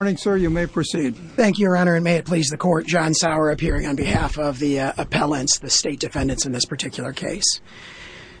Good morning, sir. You may proceed. Thank you, your honor, and may it please the court, John Sauer appearing on behalf of the appellants, the state defendants in this particular case.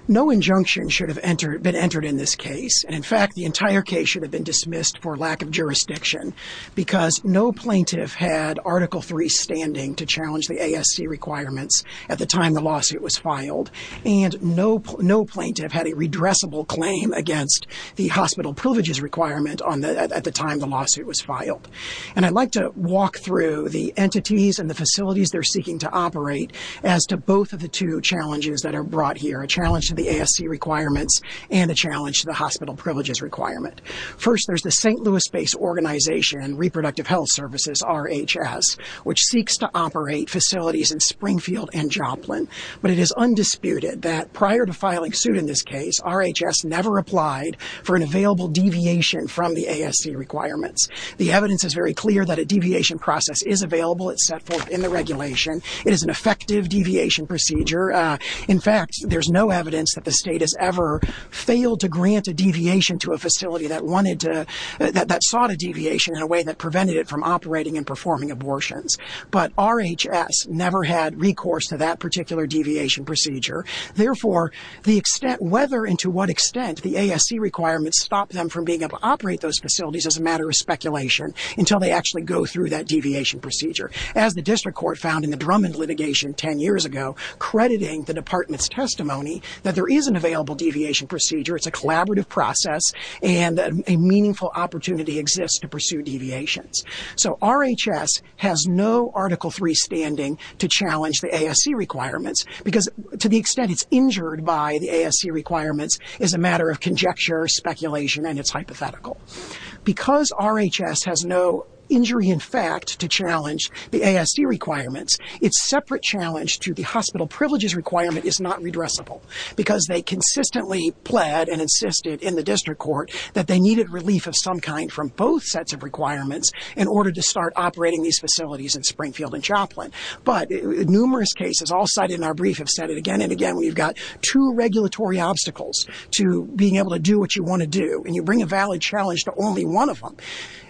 No injunction should have been entered in this case, and in fact, the entire case should have been dismissed for lack of jurisdiction because no plaintiff had Article III standing to challenge the ASC requirements at the time the lawsuit was filed, and no plaintiff had a redressable claim against the hospital privileges requirement at the time the lawsuit was filed. And I'd like to walk through the entities and the facilities they're seeking to operate as to both of the two challenges that are brought here, a challenge to the ASC requirements and a challenge to the hospital privileges requirement. First, there's the St. Louis-based organization, Reproductive Health Services, RHS, which seeks to operate facilities in Springfield and Joplin, but it is undisputed that prior to filing suit in this case, RHS never applied for an available deviation from the ASC requirements. The evidence is very clear that a deviation process is available, it's set forth in the regulation, it is an effective deviation procedure. In fact, there's no evidence that the state has ever failed to grant a deviation to a facility that wanted to, that sought a deviation in a way that prevented it from operating and performing abortions. But RHS never had recourse to that particular deviation procedure, therefore, the extent whether and to what extent the ASC requirements stop them from being able to operate those is speculation, until they actually go through that deviation procedure. As the district court found in the Drummond litigation 10 years ago, crediting the department's testimony that there is an available deviation procedure, it's a collaborative process, and a meaningful opportunity exists to pursue deviations. So RHS has no Article III standing to challenge the ASC requirements, because to the extent it's injured by the ASC requirements is a matter of conjecture, speculation, and it's hypothetical. Because RHS has no injury in fact to challenge the ASC requirements, it's separate challenge to the hospital privileges requirement is not redressable, because they consistently pled and insisted in the district court that they needed relief of some kind from both sets of requirements in order to start operating these facilities in Springfield and Choplin. But numerous cases, all cited in our brief, have said it again and again, we've got two to only one of them.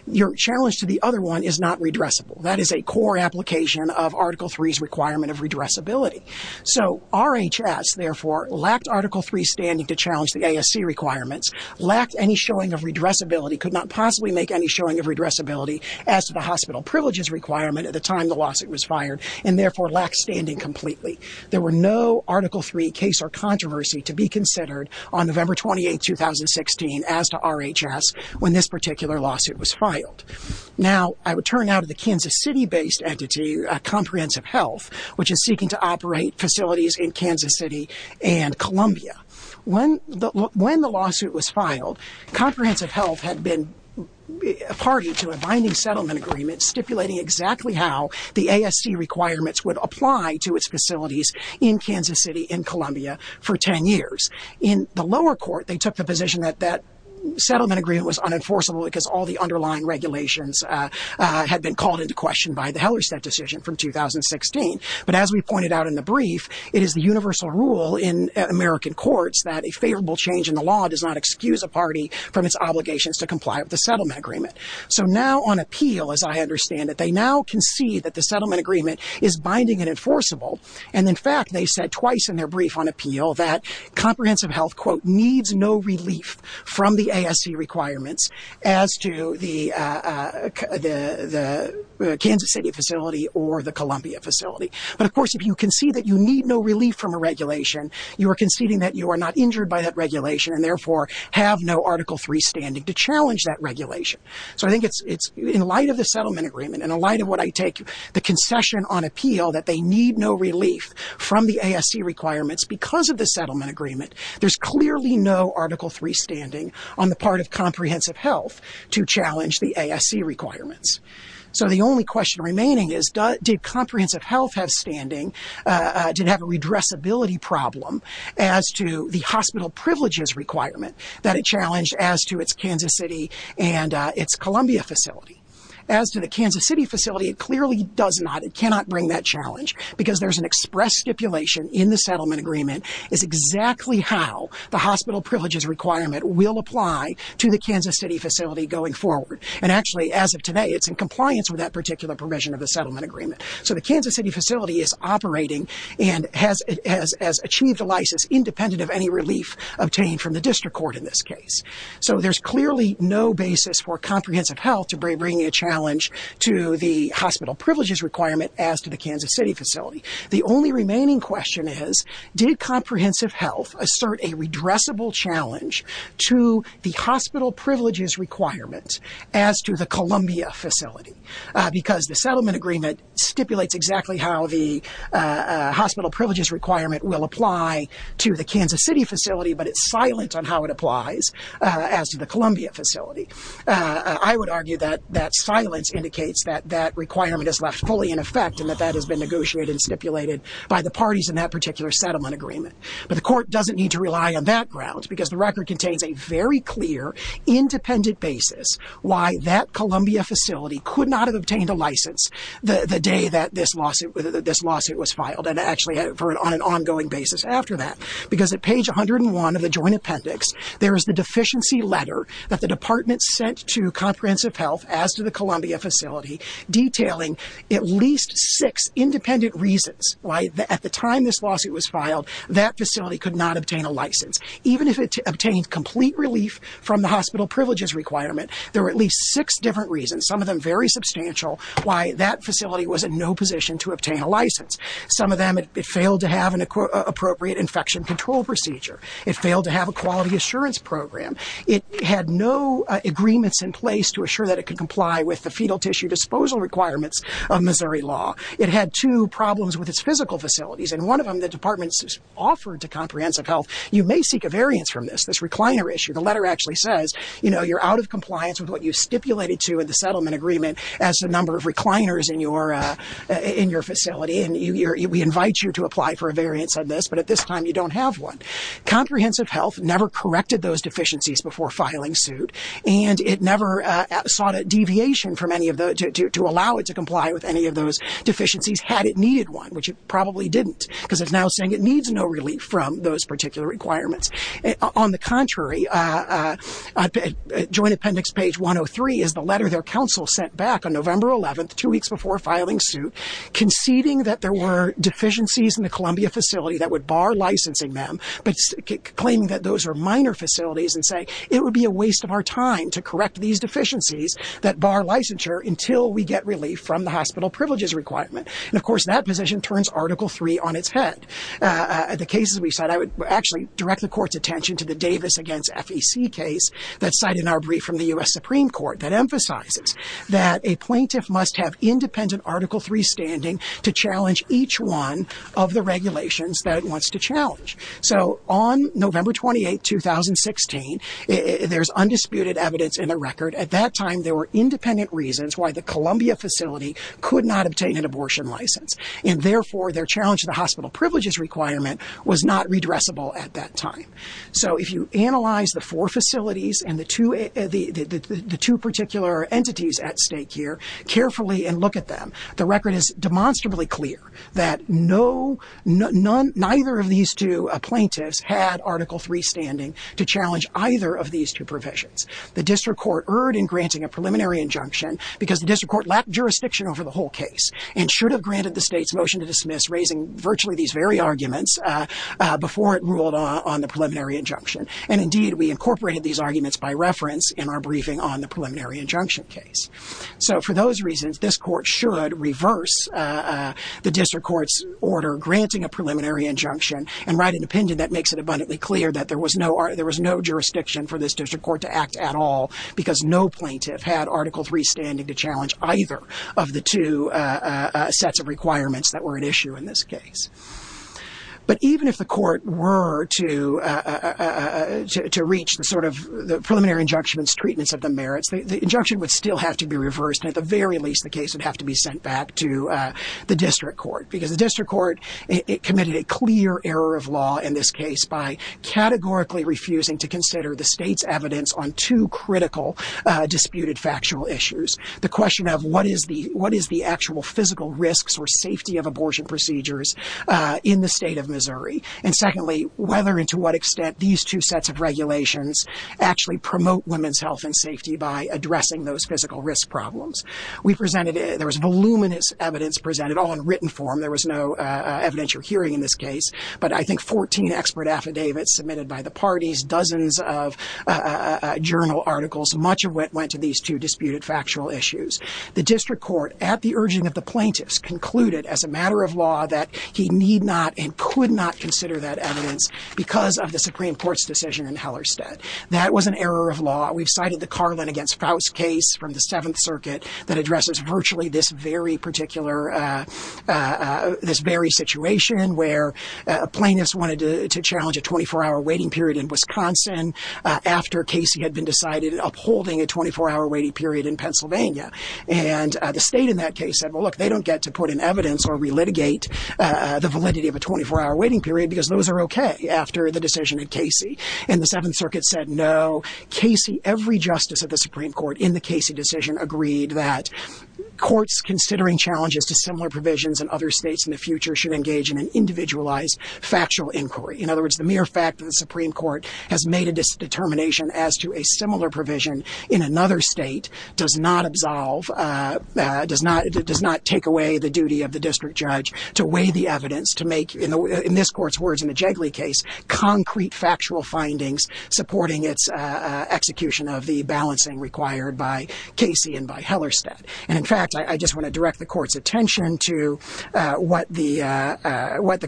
Your challenge to the other one is not redressable. That is a core application of Article III's requirement of redressability. So RHS, therefore, lacked Article III standing to challenge the ASC requirements, lacked any showing of redressability, could not possibly make any showing of redressability as to the hospital privileges requirement at the time the lawsuit was fired, and therefore lacked standing completely. There were no Article III case or controversy to be considered on November 28, 2016, as to RHS when this particular lawsuit was filed. Now, I would turn now to the Kansas City-based entity, Comprehensive Health, which is seeking to operate facilities in Kansas City and Columbia. When the lawsuit was filed, Comprehensive Health had been a party to a binding settlement agreement stipulating exactly how the ASC requirements would apply to its facilities in Kansas City and Columbia for 10 years. In the lower court, they took the position that that settlement agreement was unenforceable because all the underlying regulations had been called into question by the Hellerstedt decision from 2016. But as we pointed out in the brief, it is the universal rule in American courts that a favorable change in the law does not excuse a party from its obligations to comply with the settlement agreement. So now on appeal, as I understand it, they now concede that the settlement agreement is binding and enforceable. And in fact, they said twice in their brief on appeal that Comprehensive Health, quote, needs no relief from the ASC requirements as to the Kansas City facility or the Columbia facility. But of course, if you concede that you need no relief from a regulation, you are conceding that you are not injured by that regulation and therefore have no Article III standing to challenge that regulation. So I think it's in light of the settlement agreement and in light of what I take the concession on appeal that they need no relief from the ASC requirements because of the settlement agreement. There's clearly no Article III standing on the part of Comprehensive Health to challenge the ASC requirements. So the only question remaining is, did Comprehensive Health have standing, did it have a redressability problem as to the hospital privileges requirement that it challenged as to its Kansas City and its Columbia facility? As to the Kansas City facility, it clearly does not, it cannot bring that challenge because there's an express stipulation in the settlement agreement is exactly how the hospital privileges requirement will apply to the Kansas City facility going forward. And actually, as of today, it's in compliance with that particular provision of the settlement agreement. So the Kansas City facility is operating and has achieved a license independent of any relief obtained from the district court in this case. So there's clearly no basis for Comprehensive Health to bring a challenge to the hospital privileges requirement as to the Kansas City facility. The only remaining question is, did Comprehensive Health assert a redressable challenge to the hospital privileges requirement as to the Columbia facility? Because the settlement agreement stipulates exactly how the hospital privileges requirement will apply to the Kansas City facility, but it's silent on how it applies as to the Columbia facility. I would argue that that silence indicates that that requirement is left fully in effect and that that has been negotiated and stipulated by the parties in that particular settlement agreement. But the court doesn't need to rely on that ground because the record contains a very clear independent basis why that Columbia facility could not have obtained a license the day that this lawsuit was filed and actually on an ongoing basis after that. Because at page 101 of the joint appendix, there is the deficiency letter that the department sent to Comprehensive Health as to the Columbia facility detailing at least six independent reasons why at the time this lawsuit was filed, that facility could not obtain a license. Even if it obtained complete relief from the hospital privileges requirement, there were at least six different reasons. Some of them very substantial, why that facility was in no position to obtain a license. Some of them, it failed to have an appropriate infection control procedure. It failed to have a quality assurance program. It had no agreements in place to assure that it could comply with the fetal tissue disposal requirements of Missouri law. It had two problems with its physical facilities and one of them, the department offered to Comprehensive Health, you may seek a variance from this, this recliner issue. The letter actually says, you know, you're out of compliance with what you stipulated to in the settlement agreement as a number of recliners in your facility and we invite you to apply for a variance on this, but at this time you don't have one. Comprehensive Health never corrected those deficiencies before filing suit and it never sought a deviation from any of those to allow it to comply with any of those deficiencies had it needed one, which it probably didn't because it's now saying it needs no relief from those particular requirements. On the contrary, Joint Appendix page 103 is the letter their counsel sent back on November 11th, two weeks before filing suit, conceding that there were deficiencies in the Columbia facility that would bar licensing them, but claiming that those are minor facilities and saying, it would be a waste of our time to correct these deficiencies that bar licensure until we get relief from the hospital privileges requirement and of course that position turns Article 3 on its head. The cases we cite, I would actually direct the court's attention to the Davis against FEC case that's cited in our brief from the U.S. Supreme Court that emphasizes that a plaintiff must have independent Article 3 standing to challenge each one of the regulations that it wants to challenge. So on November 28th, 2016, there's undisputed evidence in the record. At that time, there were independent reasons why the Columbia facility could not obtain an abortion license and therefore their challenge to the hospital privileges requirement was not redressable at that time. So if you analyze the four facilities and the two particular entities at stake here, carefully and look at them, the record is demonstrably clear that neither of these two plaintiffs had Article 3 standing to challenge either of these two provisions. The district court erred in granting a preliminary injunction because the district court lacked jurisdiction over the whole case and should have granted the state's motion to dismiss raising virtually these very arguments before it ruled on the preliminary injunction. And indeed, we incorporated these arguments by reference in our briefing on the preliminary injunction case. So for those reasons, this court should reverse the district court's order granting a preliminary injunction and write an opinion that makes it abundantly clear that there was no jurisdiction for this district court to act at all because no plaintiff had Article 3 standing to challenge either of the two sets of requirements that were at issue in this case. But even if the court were to reach the sort of preliminary injunction's treatments of the merits, the injunction would still have to be reversed and at the very least the case would have to be sent back to the district court because the district court committed a clear error of law in this case by categorically refusing to consider the state's evidence on two critical disputed factual issues. The question of what is the actual physical risks or safety of abortion procedures in the state of Missouri? And secondly, whether and to what extent these two sets of regulations actually promote women's health and safety by addressing those physical risk problems. We presented, there was voluminous evidence presented all in written form. There was no evidential hearing in this case. But I think 14 expert affidavits submitted by the parties, dozens of journal articles, much of it went to these two disputed factual issues. The district court, at the urging of the plaintiffs, concluded as a matter of law that he need not and could not consider that evidence because of the Supreme Court's decision in Hellerstedt. That was an error of law. We've cited the Carlin against Faust case from the 7th Circuit that addresses virtually this very particular, this very situation where plaintiffs wanted to challenge a 24-hour waiting period in Wisconsin after Casey had been decided upholding a 24-hour waiting period in Pennsylvania. And the state in that case said, well, look, they don't get to put in evidence or re-litigate the validity of a 24-hour waiting period because those are okay after the decision at Casey. And the 7th Circuit said no. Casey, every justice of the Supreme Court in the Casey decision agreed that courts considering challenges to similar provisions in other states in the future should engage in an individualized factual inquiry. In other words, the mere fact that the Supreme Court has made a determination as to a similar provision in another state does not absolve, does not take away the duty of the district judge to weigh the evidence to make, in this court's words in the Jigley case, concrete factual findings supporting its execution of the balancing required by Casey and by Hellerstedt. And in fact, I just want to direct the court's attention to what the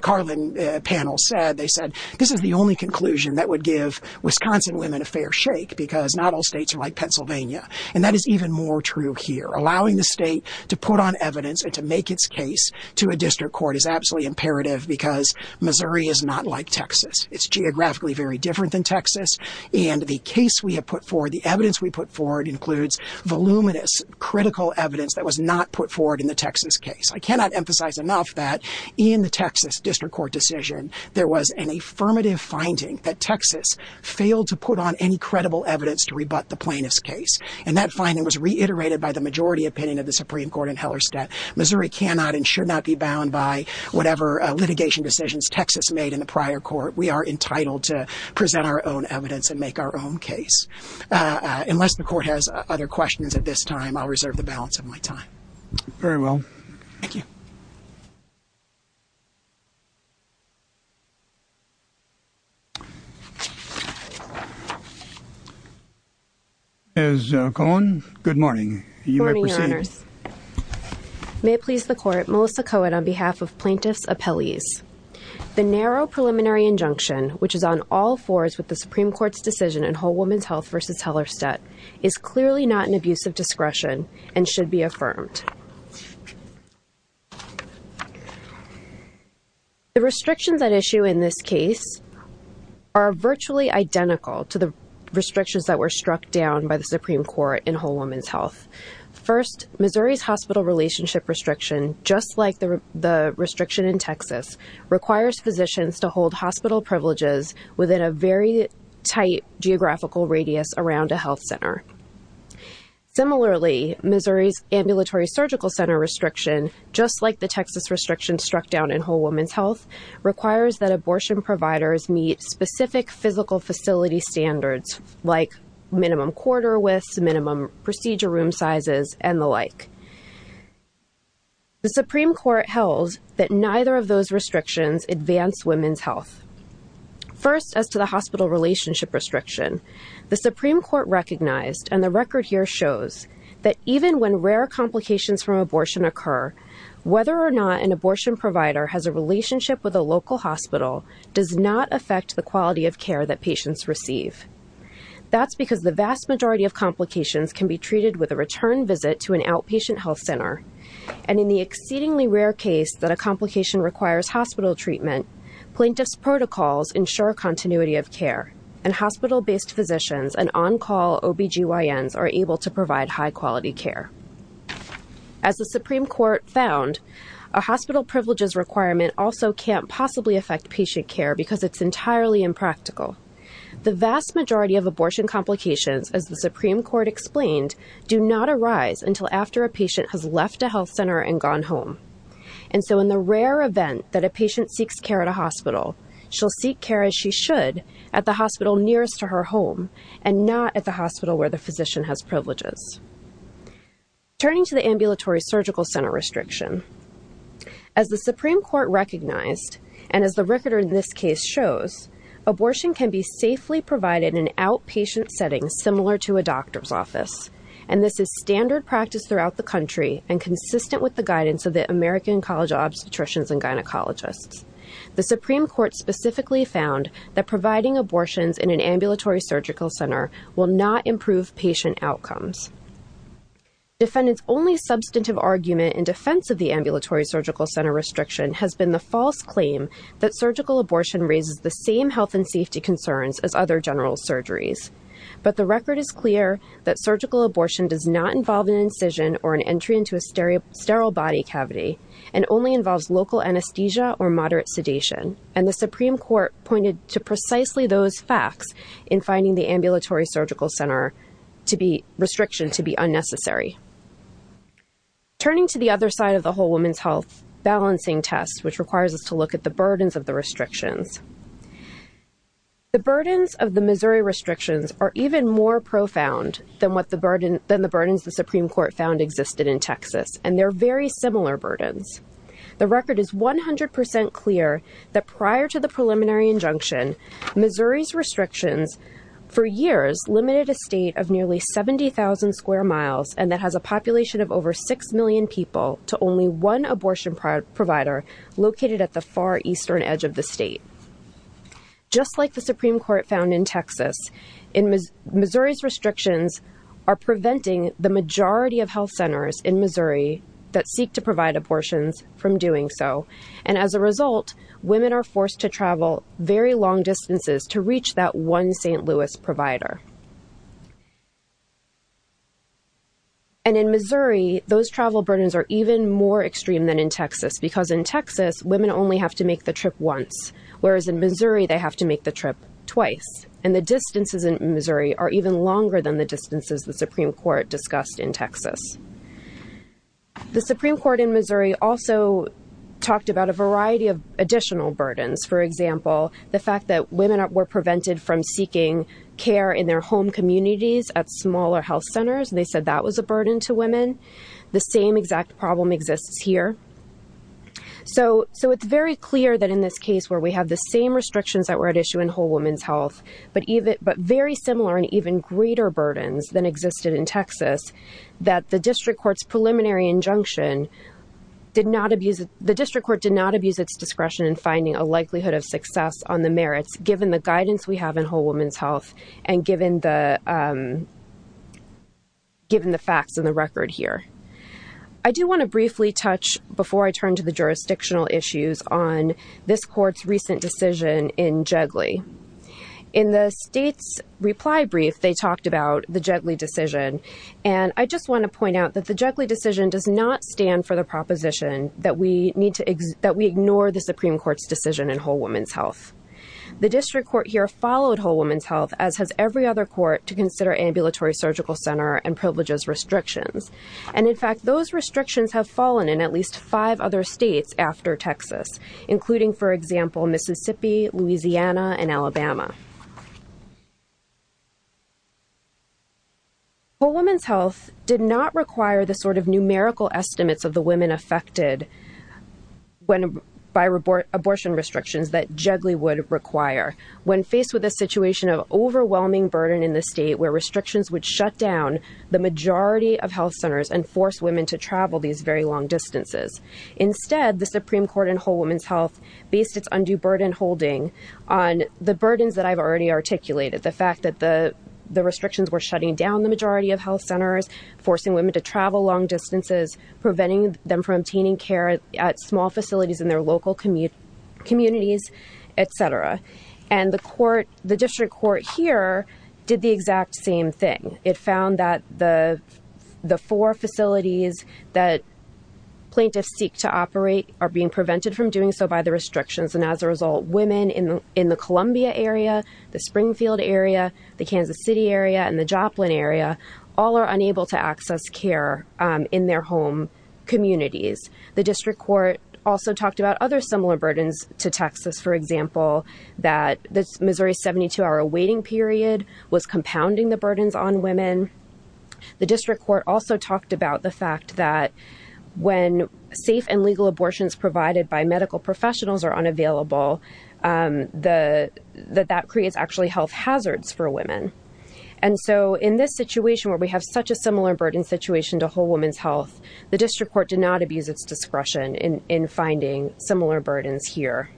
Carlin panel said. They said, this is the only conclusion that would give Wisconsin women a fair shake because not all states are like Pennsylvania. And that is even more true here. Allowing the state to put on evidence and to make its case to a district court is absolutely imperative because Missouri is not like Texas. It's geographically very different than Texas, and the case we have put forward, the evidence we put forward includes voluminous, critical evidence that was not put forward in the Texas case. I cannot emphasize enough that in the Texas district court decision, there was an affirmative finding that Texas failed to put on any credible evidence to rebut the plaintiff's case. And that finding was reiterated by the majority opinion of the Supreme Court in Hellerstedt. Missouri cannot and should not be bound by whatever litigation decisions Texas made in the prior court. We are entitled to present our own evidence and make our own case. Unless the court has other questions at this time, I'll reserve the balance of my time. Very well. Thank you. Ms. Cohen, good morning. Good morning, Your Honors. You may proceed. May it please the Court, Melissa Cohen on behalf of plaintiff's appellees. The narrow preliminary injunction, which is on all fours with the Supreme Court's decision in Whole Woman's Health v. Hellerstedt, is clearly not an abuse of discretion and should be affirmed. The restrictions at issue in this case are virtually identical to the restrictions that were struck down by the Supreme Court in Whole Woman's Health. First, Missouri's hospital relationship restriction, just like the restriction in Texas, requires physicians to hold hospital privileges within a very tight geographical radius around a health center. Similarly, Missouri's ambulatory surgical center restriction, just like the Texas restriction struck down in Whole Woman's Health, requires that abortion providers meet specific physical facility standards like minimum corridor widths, minimum procedure room sizes, and the like. The Supreme Court held that neither of those restrictions advance women's health. First, as to the hospital relationship restriction, the Supreme Court recognized, and the record here shows, that even when rare complications from abortion occur, whether or not an abortion provider has a relationship with a local hospital does not affect the quality of care that patients receive. That's because the vast majority of complications can be treated with a return visit to an outpatient health center, and in the exceedingly rare case that a complication requires hospital treatment, plaintiff's protocols ensure continuity of care, and hospital-based physicians and on-call OBGYNs are able to provide high-quality care. As the Supreme Court found, a hospital privileges requirement also can't possibly affect patient care because it's entirely impractical. The vast majority of abortion complications, as the Supreme Court explained, do not arise until after a patient has left a health center and gone home. And so in the rare event that a patient seeks care at a hospital, she'll seek care as she should at the hospital nearest to her home, and not at the hospital where the physician has privileges. Turning to the ambulatory surgical center restriction, as the Supreme Court recognized, and as the record in this case shows, abortion can be safely provided in outpatient settings similar to a doctor's office, and this is standard practice throughout the country and consistent with the guidance of the American College of Obstetricians and Gynecologists. The Supreme Court specifically found that providing abortions in an ambulatory surgical center will not improve patient outcomes. Defendants' only substantive argument in defense of the ambulatory surgical center restriction has been the false claim that surgical abortion raises the same health and safety concerns as other general surgeries. But the record is clear that surgical abortion does not involve an incision or an entry into a sterile body cavity, and only involves local anesthesia or moderate sedation. And the Supreme Court pointed to precisely those facts in finding the ambulatory surgical center restriction to be unnecessary. Turning to the other side of the whole women's health balancing test, which requires us to look at the burdens of the restrictions. The burdens of the Missouri restrictions are even more profound than the burdens the Supreme Court found in Texas, and they're very similar burdens. The record is 100% clear that prior to the preliminary injunction, Missouri's restrictions for years limited a state of nearly 70,000 square miles and that has a population of over 6 million people to only one abortion provider located at the far eastern edge of the state. Just like the Supreme Court found in Texas, Missouri's restrictions are preventing the to provide abortions from doing so, and as a result, women are forced to travel very long distances to reach that one St. Louis provider. And in Missouri, those travel burdens are even more extreme than in Texas, because in Texas women only have to make the trip once, whereas in Missouri they have to make the trip twice. And the distances in Missouri are even longer than the distances the Supreme Court discussed in Texas. The Supreme Court in Missouri also talked about a variety of additional burdens. For example, the fact that women were prevented from seeking care in their home communities at smaller health centers, and they said that was a burden to women. The same exact problem exists here. So it's very clear that in this case where we have the same restrictions that were at the district court's preliminary injunction, the district court did not abuse its discretion in finding a likelihood of success on the merits given the guidance we have in Whole Women's Health and given the facts in the record here. I do want to briefly touch, before I turn to the jurisdictional issues, on this court's recent decision in Jigley. In the state's reply brief, they talked about the Jigley decision, and I just want to point out that the Jigley decision does not stand for the proposition that we ignore the Supreme Court's decision in Whole Women's Health. The district court here followed Whole Women's Health, as has every other court, to consider ambulatory surgical center and privileges restrictions. And in fact, those restrictions have fallen in at least five other states after Texas, including, for example, Mississippi, Louisiana, and Alabama. Whole Women's Health did not require the sort of numerical estimates of the women affected by abortion restrictions that Jigley would require when faced with a situation of overwhelming burden in the state where restrictions would shut down the majority of health centers and force women to travel these very long distances. Instead, the Supreme Court in Whole Women's Health based its undue burden holding on the burdens that I've already articulated, the fact that the restrictions were shutting down the majority of health centers, forcing women to travel long distances, preventing them from obtaining care at small facilities in their local communities, et cetera. And the court, the district court here, did the exact same thing. It found that the four facilities that plaintiffs seek to operate are being prevented from doing so by the restrictions. And as a result, women in the Columbia area, the Springfield area, the Kansas City area, and the Joplin area, all are unable to access care in their home communities. The district court also talked about other similar burdens to Texas, for example, that the Missouri 72-hour waiting period was compounding the burdens on women. The district court also talked about the fact that when safe and legal abortions provided by medical professionals are unavailable, that that creates actually health hazards for women. And so in this situation where we have such a similar burden situation to Whole Women's Health, the district court did not abuse its discretion in finding similar burdens here.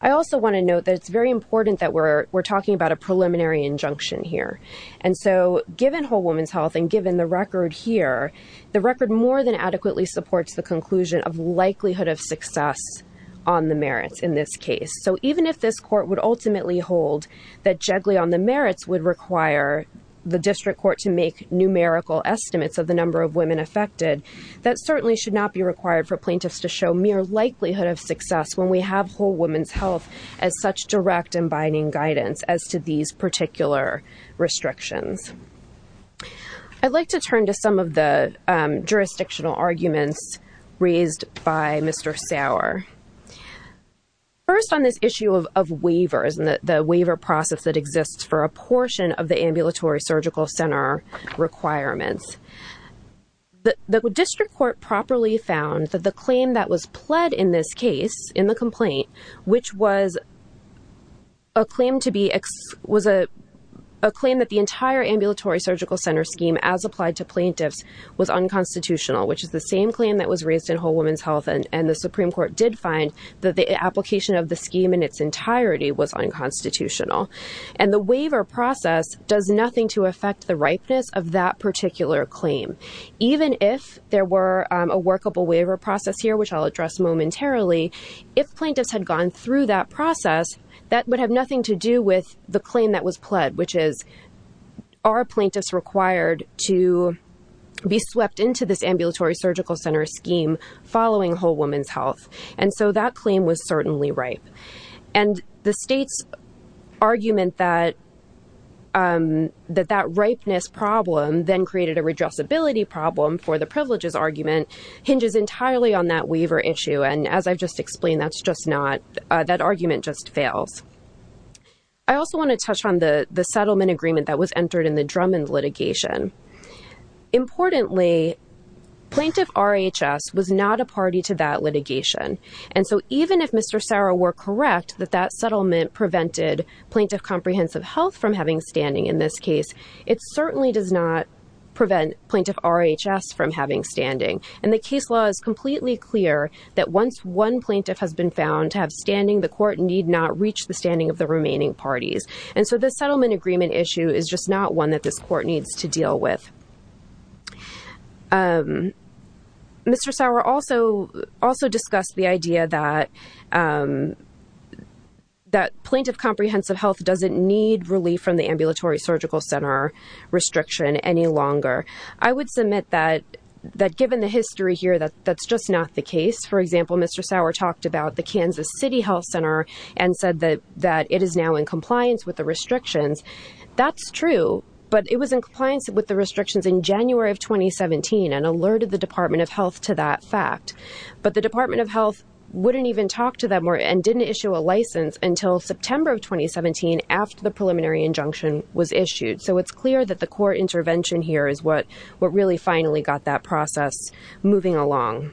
I also want to note that it's very important that we're talking about a preliminary injunction here. And so given Whole Woman's Health and given the record here, the record more than adequately supports the conclusion of likelihood of success on the merits in this case. So even if this court would ultimately hold that juggling on the merits would require the district court to make numerical estimates of the number of women affected, that certainly should not be required for plaintiffs to show mere likelihood of success when we have Whole Woman's Health as such direct and binding guidance as to these particular restrictions. I'd like to turn to some of the jurisdictional arguments raised by Mr. Sauer. First on this issue of waivers and the waiver process that exists for a portion of the ambulatory surgical center requirements. The district court properly found that the claim that was pled in this case, in the complaint, which was a claim that the entire ambulatory surgical center scheme as applied to plaintiffs was unconstitutional, which is the same claim that was raised in Whole Woman's Health and the Supreme Court did find that the application of the scheme in its entirety was unconstitutional. And the waiver process does nothing to affect the ripeness of that particular claim. Even if there were a workable waiver process here, which I'll address momentarily, if plaintiffs had gone through that process, that would have nothing to do with the claim that was pled, which is, are plaintiffs required to be swept into this ambulatory surgical center scheme following Whole Woman's Health? And so that claim was certainly ripe. And the state's argument that that ripeness problem then created a redressability problem for the privileges argument hinges entirely on that waiver issue. And as I've just explained, that's just not, that argument just fails. I also want to touch on the settlement agreement that was entered in the Drummond litigation. Importantly, Plaintiff RHS was not a party to that litigation. And so even if Mr. Sauer were correct that that settlement prevented Plaintiff Comprehensive Health from having standing in this case, it certainly does not prevent Plaintiff RHS from having standing. And the case law is completely clear that once one plaintiff has been found to have standing, the court need not reach the standing of the remaining parties. And so the settlement agreement issue is just not one that this court needs to deal with. Mr. Sauer also discussed the idea that Plaintiff Comprehensive Health doesn't need relief from the ambulatory surgical center restriction any longer. I would submit that given the history here, that's just not the case. For example, Mr. Sauer talked about the Kansas City Health Center and said that it is now in compliance with the restrictions. That's true, but it was in compliance with the restrictions in January of 2017 and alerted the Department of Health to that fact. But the Department of Health wouldn't even talk to them and didn't issue a license until September of 2017 after the preliminary injunction was issued. So it's clear that the court intervention here is what really finally got that process moving along.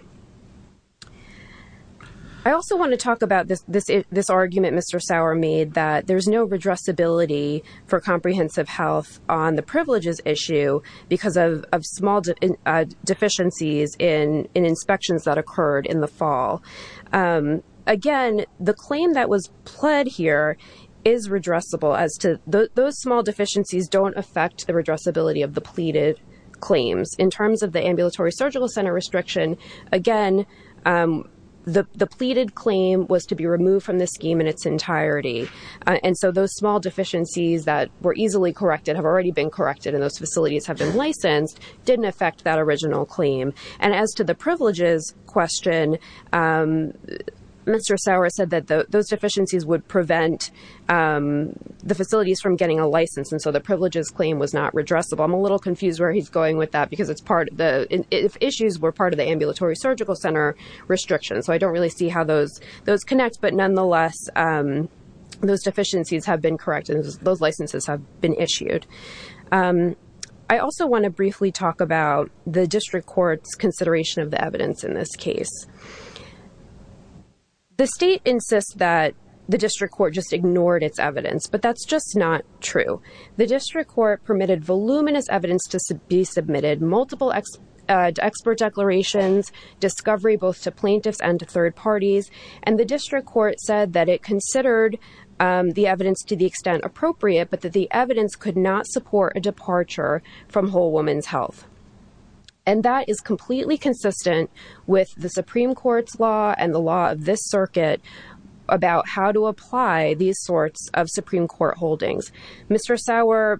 I also want to talk about this argument Mr. Sauer made that there's no redressability for Comprehensive Health on the privileges issue because of small deficiencies in inspections that occurred in the fall. Again, the claim that was pled here is redressable as to those small deficiencies don't affect the redressability of the pleaded claims. In terms of the Ambulatory Surgical Center restriction, again, the pleaded claim was to be removed from the scheme in its entirety. And so those small deficiencies that were easily corrected have already been corrected and those facilities have been licensed, didn't affect that original claim. And as to the privileges question, Mr. Sauer said that those deficiencies would prevent the facilities from getting a license and so the privileges claim was not redressable. I'm a little confused where he's going with that because the issues were part of the Ambulatory Surgical Center restriction. So I don't really see how those connect, but nonetheless, those deficiencies have been corrected and those licenses have been issued. I also want to briefly talk about the District Court's consideration of the evidence in this case. The state insists that the District Court just ignored its evidence, but that's just not true. The District Court permitted voluminous evidence to be submitted, multiple expert declarations, discovery both to plaintiffs and to third parties, and the District Court said that it considered the evidence to the extent appropriate, but that the evidence could not support a departure from whole woman's health. And that is completely consistent with the Supreme Court's law and the law of this circuit about how to apply these sorts of Supreme Court holdings. Mr. Sauer,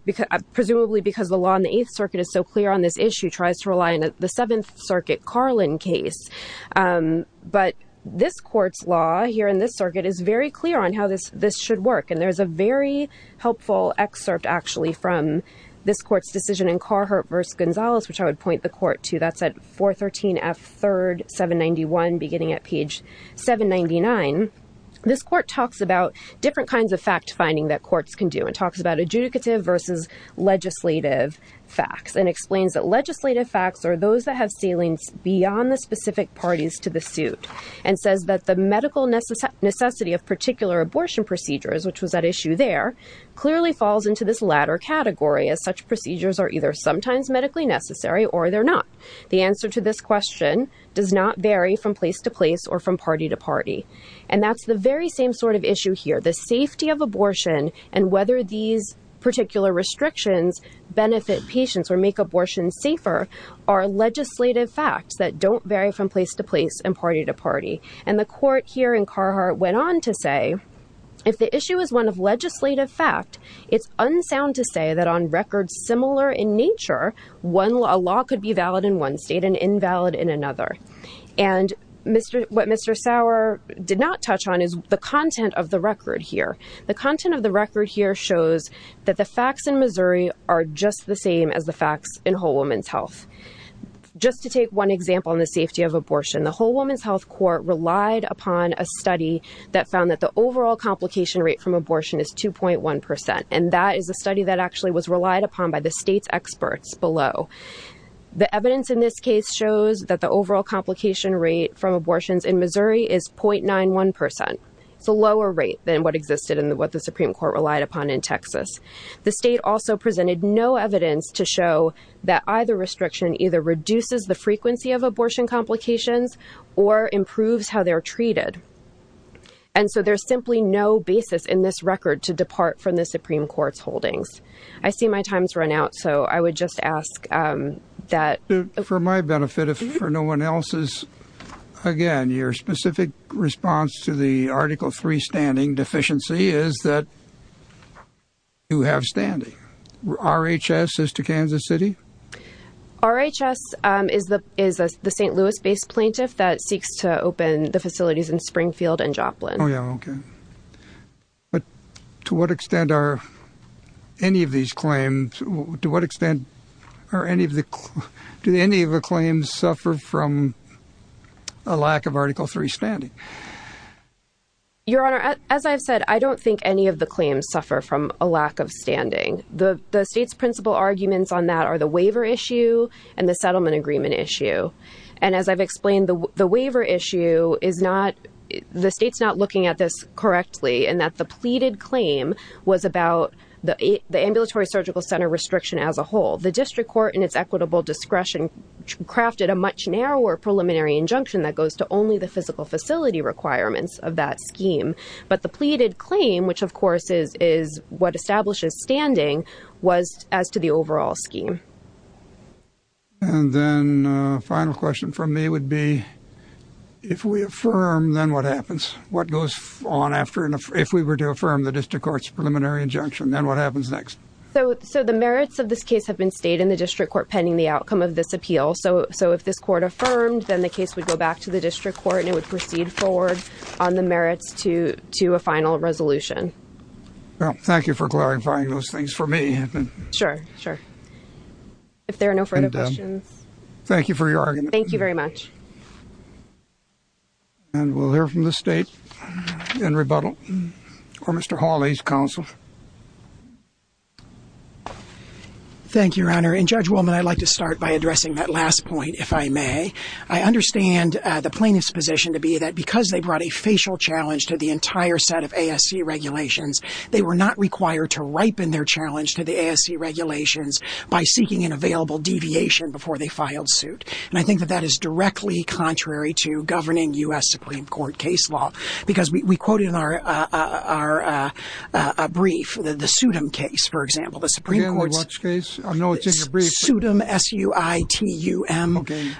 presumably because the law in the 8th Circuit is so clear on this issue, tries to rely on the 7th Circuit Carlin case. But this court's law here in this circuit is very clear on how this should work and there's a very helpful excerpt actually from this court's decision in Carhartt v. Gonzales which I would point the court to. That's at 413 F. 3rd, 791 beginning at page 799. This court talks about different kinds of fact-finding that courts can do. It talks about adjudicative versus legislative facts and explains that legislative facts are those that have ceilings beyond the specific parties to the suit. And says that the medical necessity of particular abortion procedures, which was at issue there, clearly falls into this latter category as such procedures are either sometimes medically necessary or they're not. The answer to this question does not vary from place to place or from party to party. And that's the very same sort of issue here. The safety of abortion and whether these particular restrictions benefit patients or make abortions safer are legislative facts that don't vary from place to place and party to party. And the court here in Carhartt went on to say if the issue is one of legislative fact, it's unsound to say that on records similar in nature, a law could be valid in one state and invalid in another. And what Mr. Sauer did not touch on is the content of the record here. The content of the record here shows that the facts in Missouri are just the same as the facts in Whole Woman's Health. Just to take one example on the safety of abortion, the Whole Woman's Health Court relied upon a study that found that the overall complication rate from abortion is 2.1%. And that is a study that actually was relied upon by the state's experts below. The evidence in this case shows that the overall complication rate from abortions in Missouri is 0.91%. It's a lower rate than what existed in what the Supreme Court relied upon in Texas. The state also presented no evidence to show that either restriction either reduces the And so there's simply no basis in this record to depart from the Supreme Court's holdings. I see my time's run out, so I would just ask that... For my benefit, if for no one else's, again, your specific response to the Article 3 standing deficiency is that you have standing. RHS as to Kansas City? RHS is the St. Louis-based plaintiff that seeks to open the facilities in Springfield and Joplin. Oh, yeah. Okay. But to what extent are any of these claims... To what extent are any of the... Do any of the claims suffer from a lack of Article 3 standing? Your Honor, as I've said, I don't think any of the claims suffer from a lack of standing. The state's principal arguments on that are the waiver issue and the settlement agreement issue. And as I've explained, the waiver issue is not... The state's not looking at this correctly in that the pleaded claim was about the ambulatory surgical center restriction as a whole. The district court, in its equitable discretion, crafted a much narrower preliminary injunction that goes to only the physical facility requirements of that scheme. But the pleaded claim, which of course is what establishes standing, was as to the overall scheme. And then a final question from me would be, if we affirm, then what happens? What goes on after... If we were to affirm the district court's preliminary injunction, then what happens next? So the merits of this case have been stated in the district court pending the outcome of this appeal. So if this court affirmed, then the case would go back to the district court and it would proceed forward on the merits to a final resolution. Well, thank you for clarifying those things for me. Sure. Sure. If there are no further questions... Thank you for your argument. Thank you very much. And we'll hear from the state in rebuttal. Or Mr. Hawley's counsel. Thank you, Your Honor. And Judge Wilman, I'd like to start by addressing that last point, if I may. I understand the plaintiff's position to be that because they brought a facial challenge to the entire set of ASC regulations, they were not required to ripen their challenge to the ASC regulations by seeking an available deviation before they filed suit. And I think that that is directly contrary to governing U.S. Supreme Court case law. Because we quoted in our brief, the SUDM case, for example, the Supreme Court's... Again? What case? I know it's in your brief. SUDM. S-U-D-M. S-U-I-T-U-M. Okay.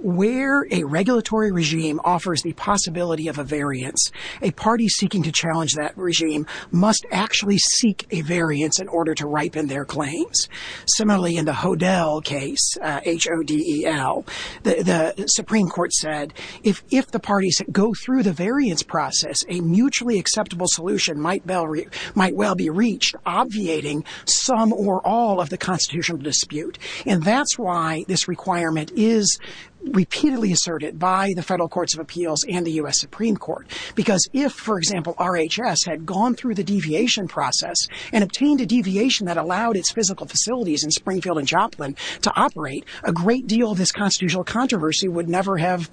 Where a regulatory regime offers the possibility of a variance, a party seeking to challenge that regime must actually seek a variance in order to ripen their claims. Similarly, in the HODEL case, H-O-D-E-L, the Supreme Court said, if the parties go through the variance process, a mutually acceptable solution might well be reached, obviating some or all of the constitutional dispute. And that's why this requirement is repeatedly asserted by the Federal Courts of Appeals and the U.S. Supreme Court. Because if, for example, RHS had gone through the deviation process and obtained a deviation that allowed its physical facilities in Springfield and Joplin to operate, a great deal of this constitutional controversy would never have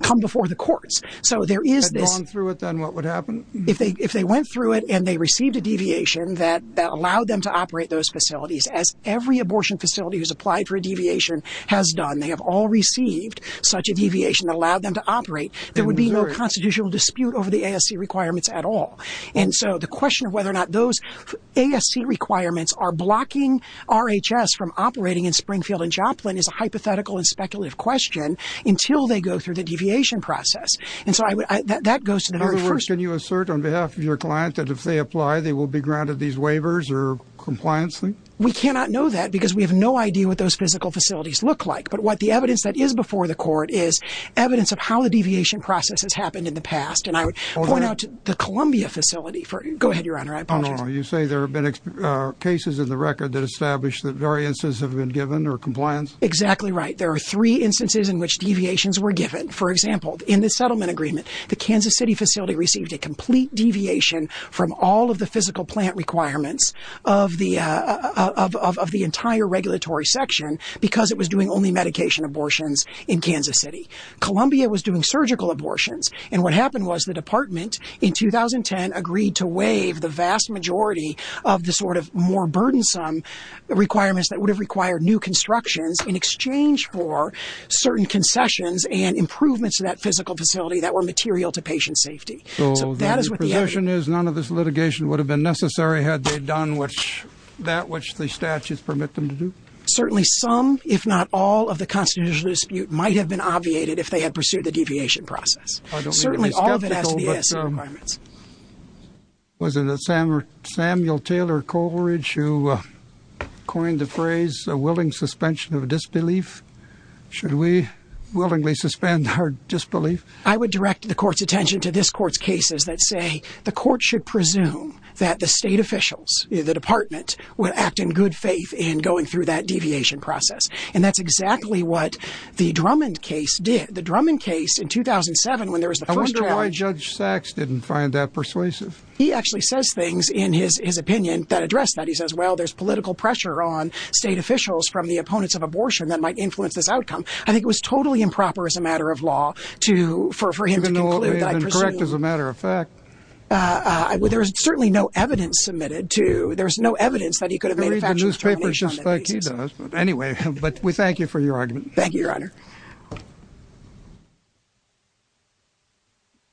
come before the courts. So there is this... Had gone through it, then what would happen? If they went through it and they received a deviation that allowed them to operate those facilities, as every abortion facility who's applied for a deviation has done, they have all received such a deviation that allowed them to operate, there would be no constitutional dispute over the ASC requirements at all. And so the question of whether or not those ASC requirements are blocking RHS from operating in Springfield and Joplin is a hypothetical and speculative question until they go through the deviation process. And so I would... That goes to the very first... Can you assert on behalf of your client that if they apply, they will be granted these waivers or compliance? We cannot know that because we have no idea what those physical facilities look like. But what the evidence that is before the court is evidence of how the deviation process has happened in the past. And I would point out to the Columbia facility for... Go ahead, Your Honor. I apologize. Oh, no, no. You say there have been cases in the record that establish that variances have been given or compliance? Exactly right. There are three instances in which deviations were given. For example, in the settlement agreement, the Kansas City facility received a complete deviation from all of the physical plant requirements of the entire regulatory section because it was doing only medication abortions in Kansas City. Columbia was doing surgical abortions. And what happened was the department in 2010 agreed to waive the vast majority of the sort of more burdensome requirements that would have required new constructions in exchange for certain concessions and improvements to that physical facility that were material to patient safety. So that is what the evidence... So the position is none of this litigation would have been necessary had they done that which the statutes permit them to do? Certainly some, if not all, of the constitutional dispute might have been obviated if they had pursued the deviation process. Certainly all of it has to do with the assay requirements. Was it Samuel Taylor Coleridge who coined the phrase, a willing suspension of disbelief? Should we willingly suspend our disbelief? I would direct the court's attention to this court's cases that say the court should presume that the state officials, the department, would act in good faith in going through that deviation process. And that's exactly what the Drummond case did. The Drummond case in 2007 when there was the first trial... He actually says things in his opinion that address that. He says, well, there's political pressure on state officials from the opponents of abortion that might influence this outcome. I think it was totally improper as a matter of law for him to conclude that... Even though it may have been correct as a matter of fact. There's certainly no evidence submitted to... There's no evidence that he could have made a factual determination on that basis. I read the newspapers just like he does. But anyway, we thank you for your argument. Thank you, Your Honor.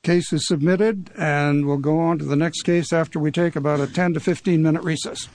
The case is submitted and we'll go on to the next case after we take about a 10 to 15 minute recess.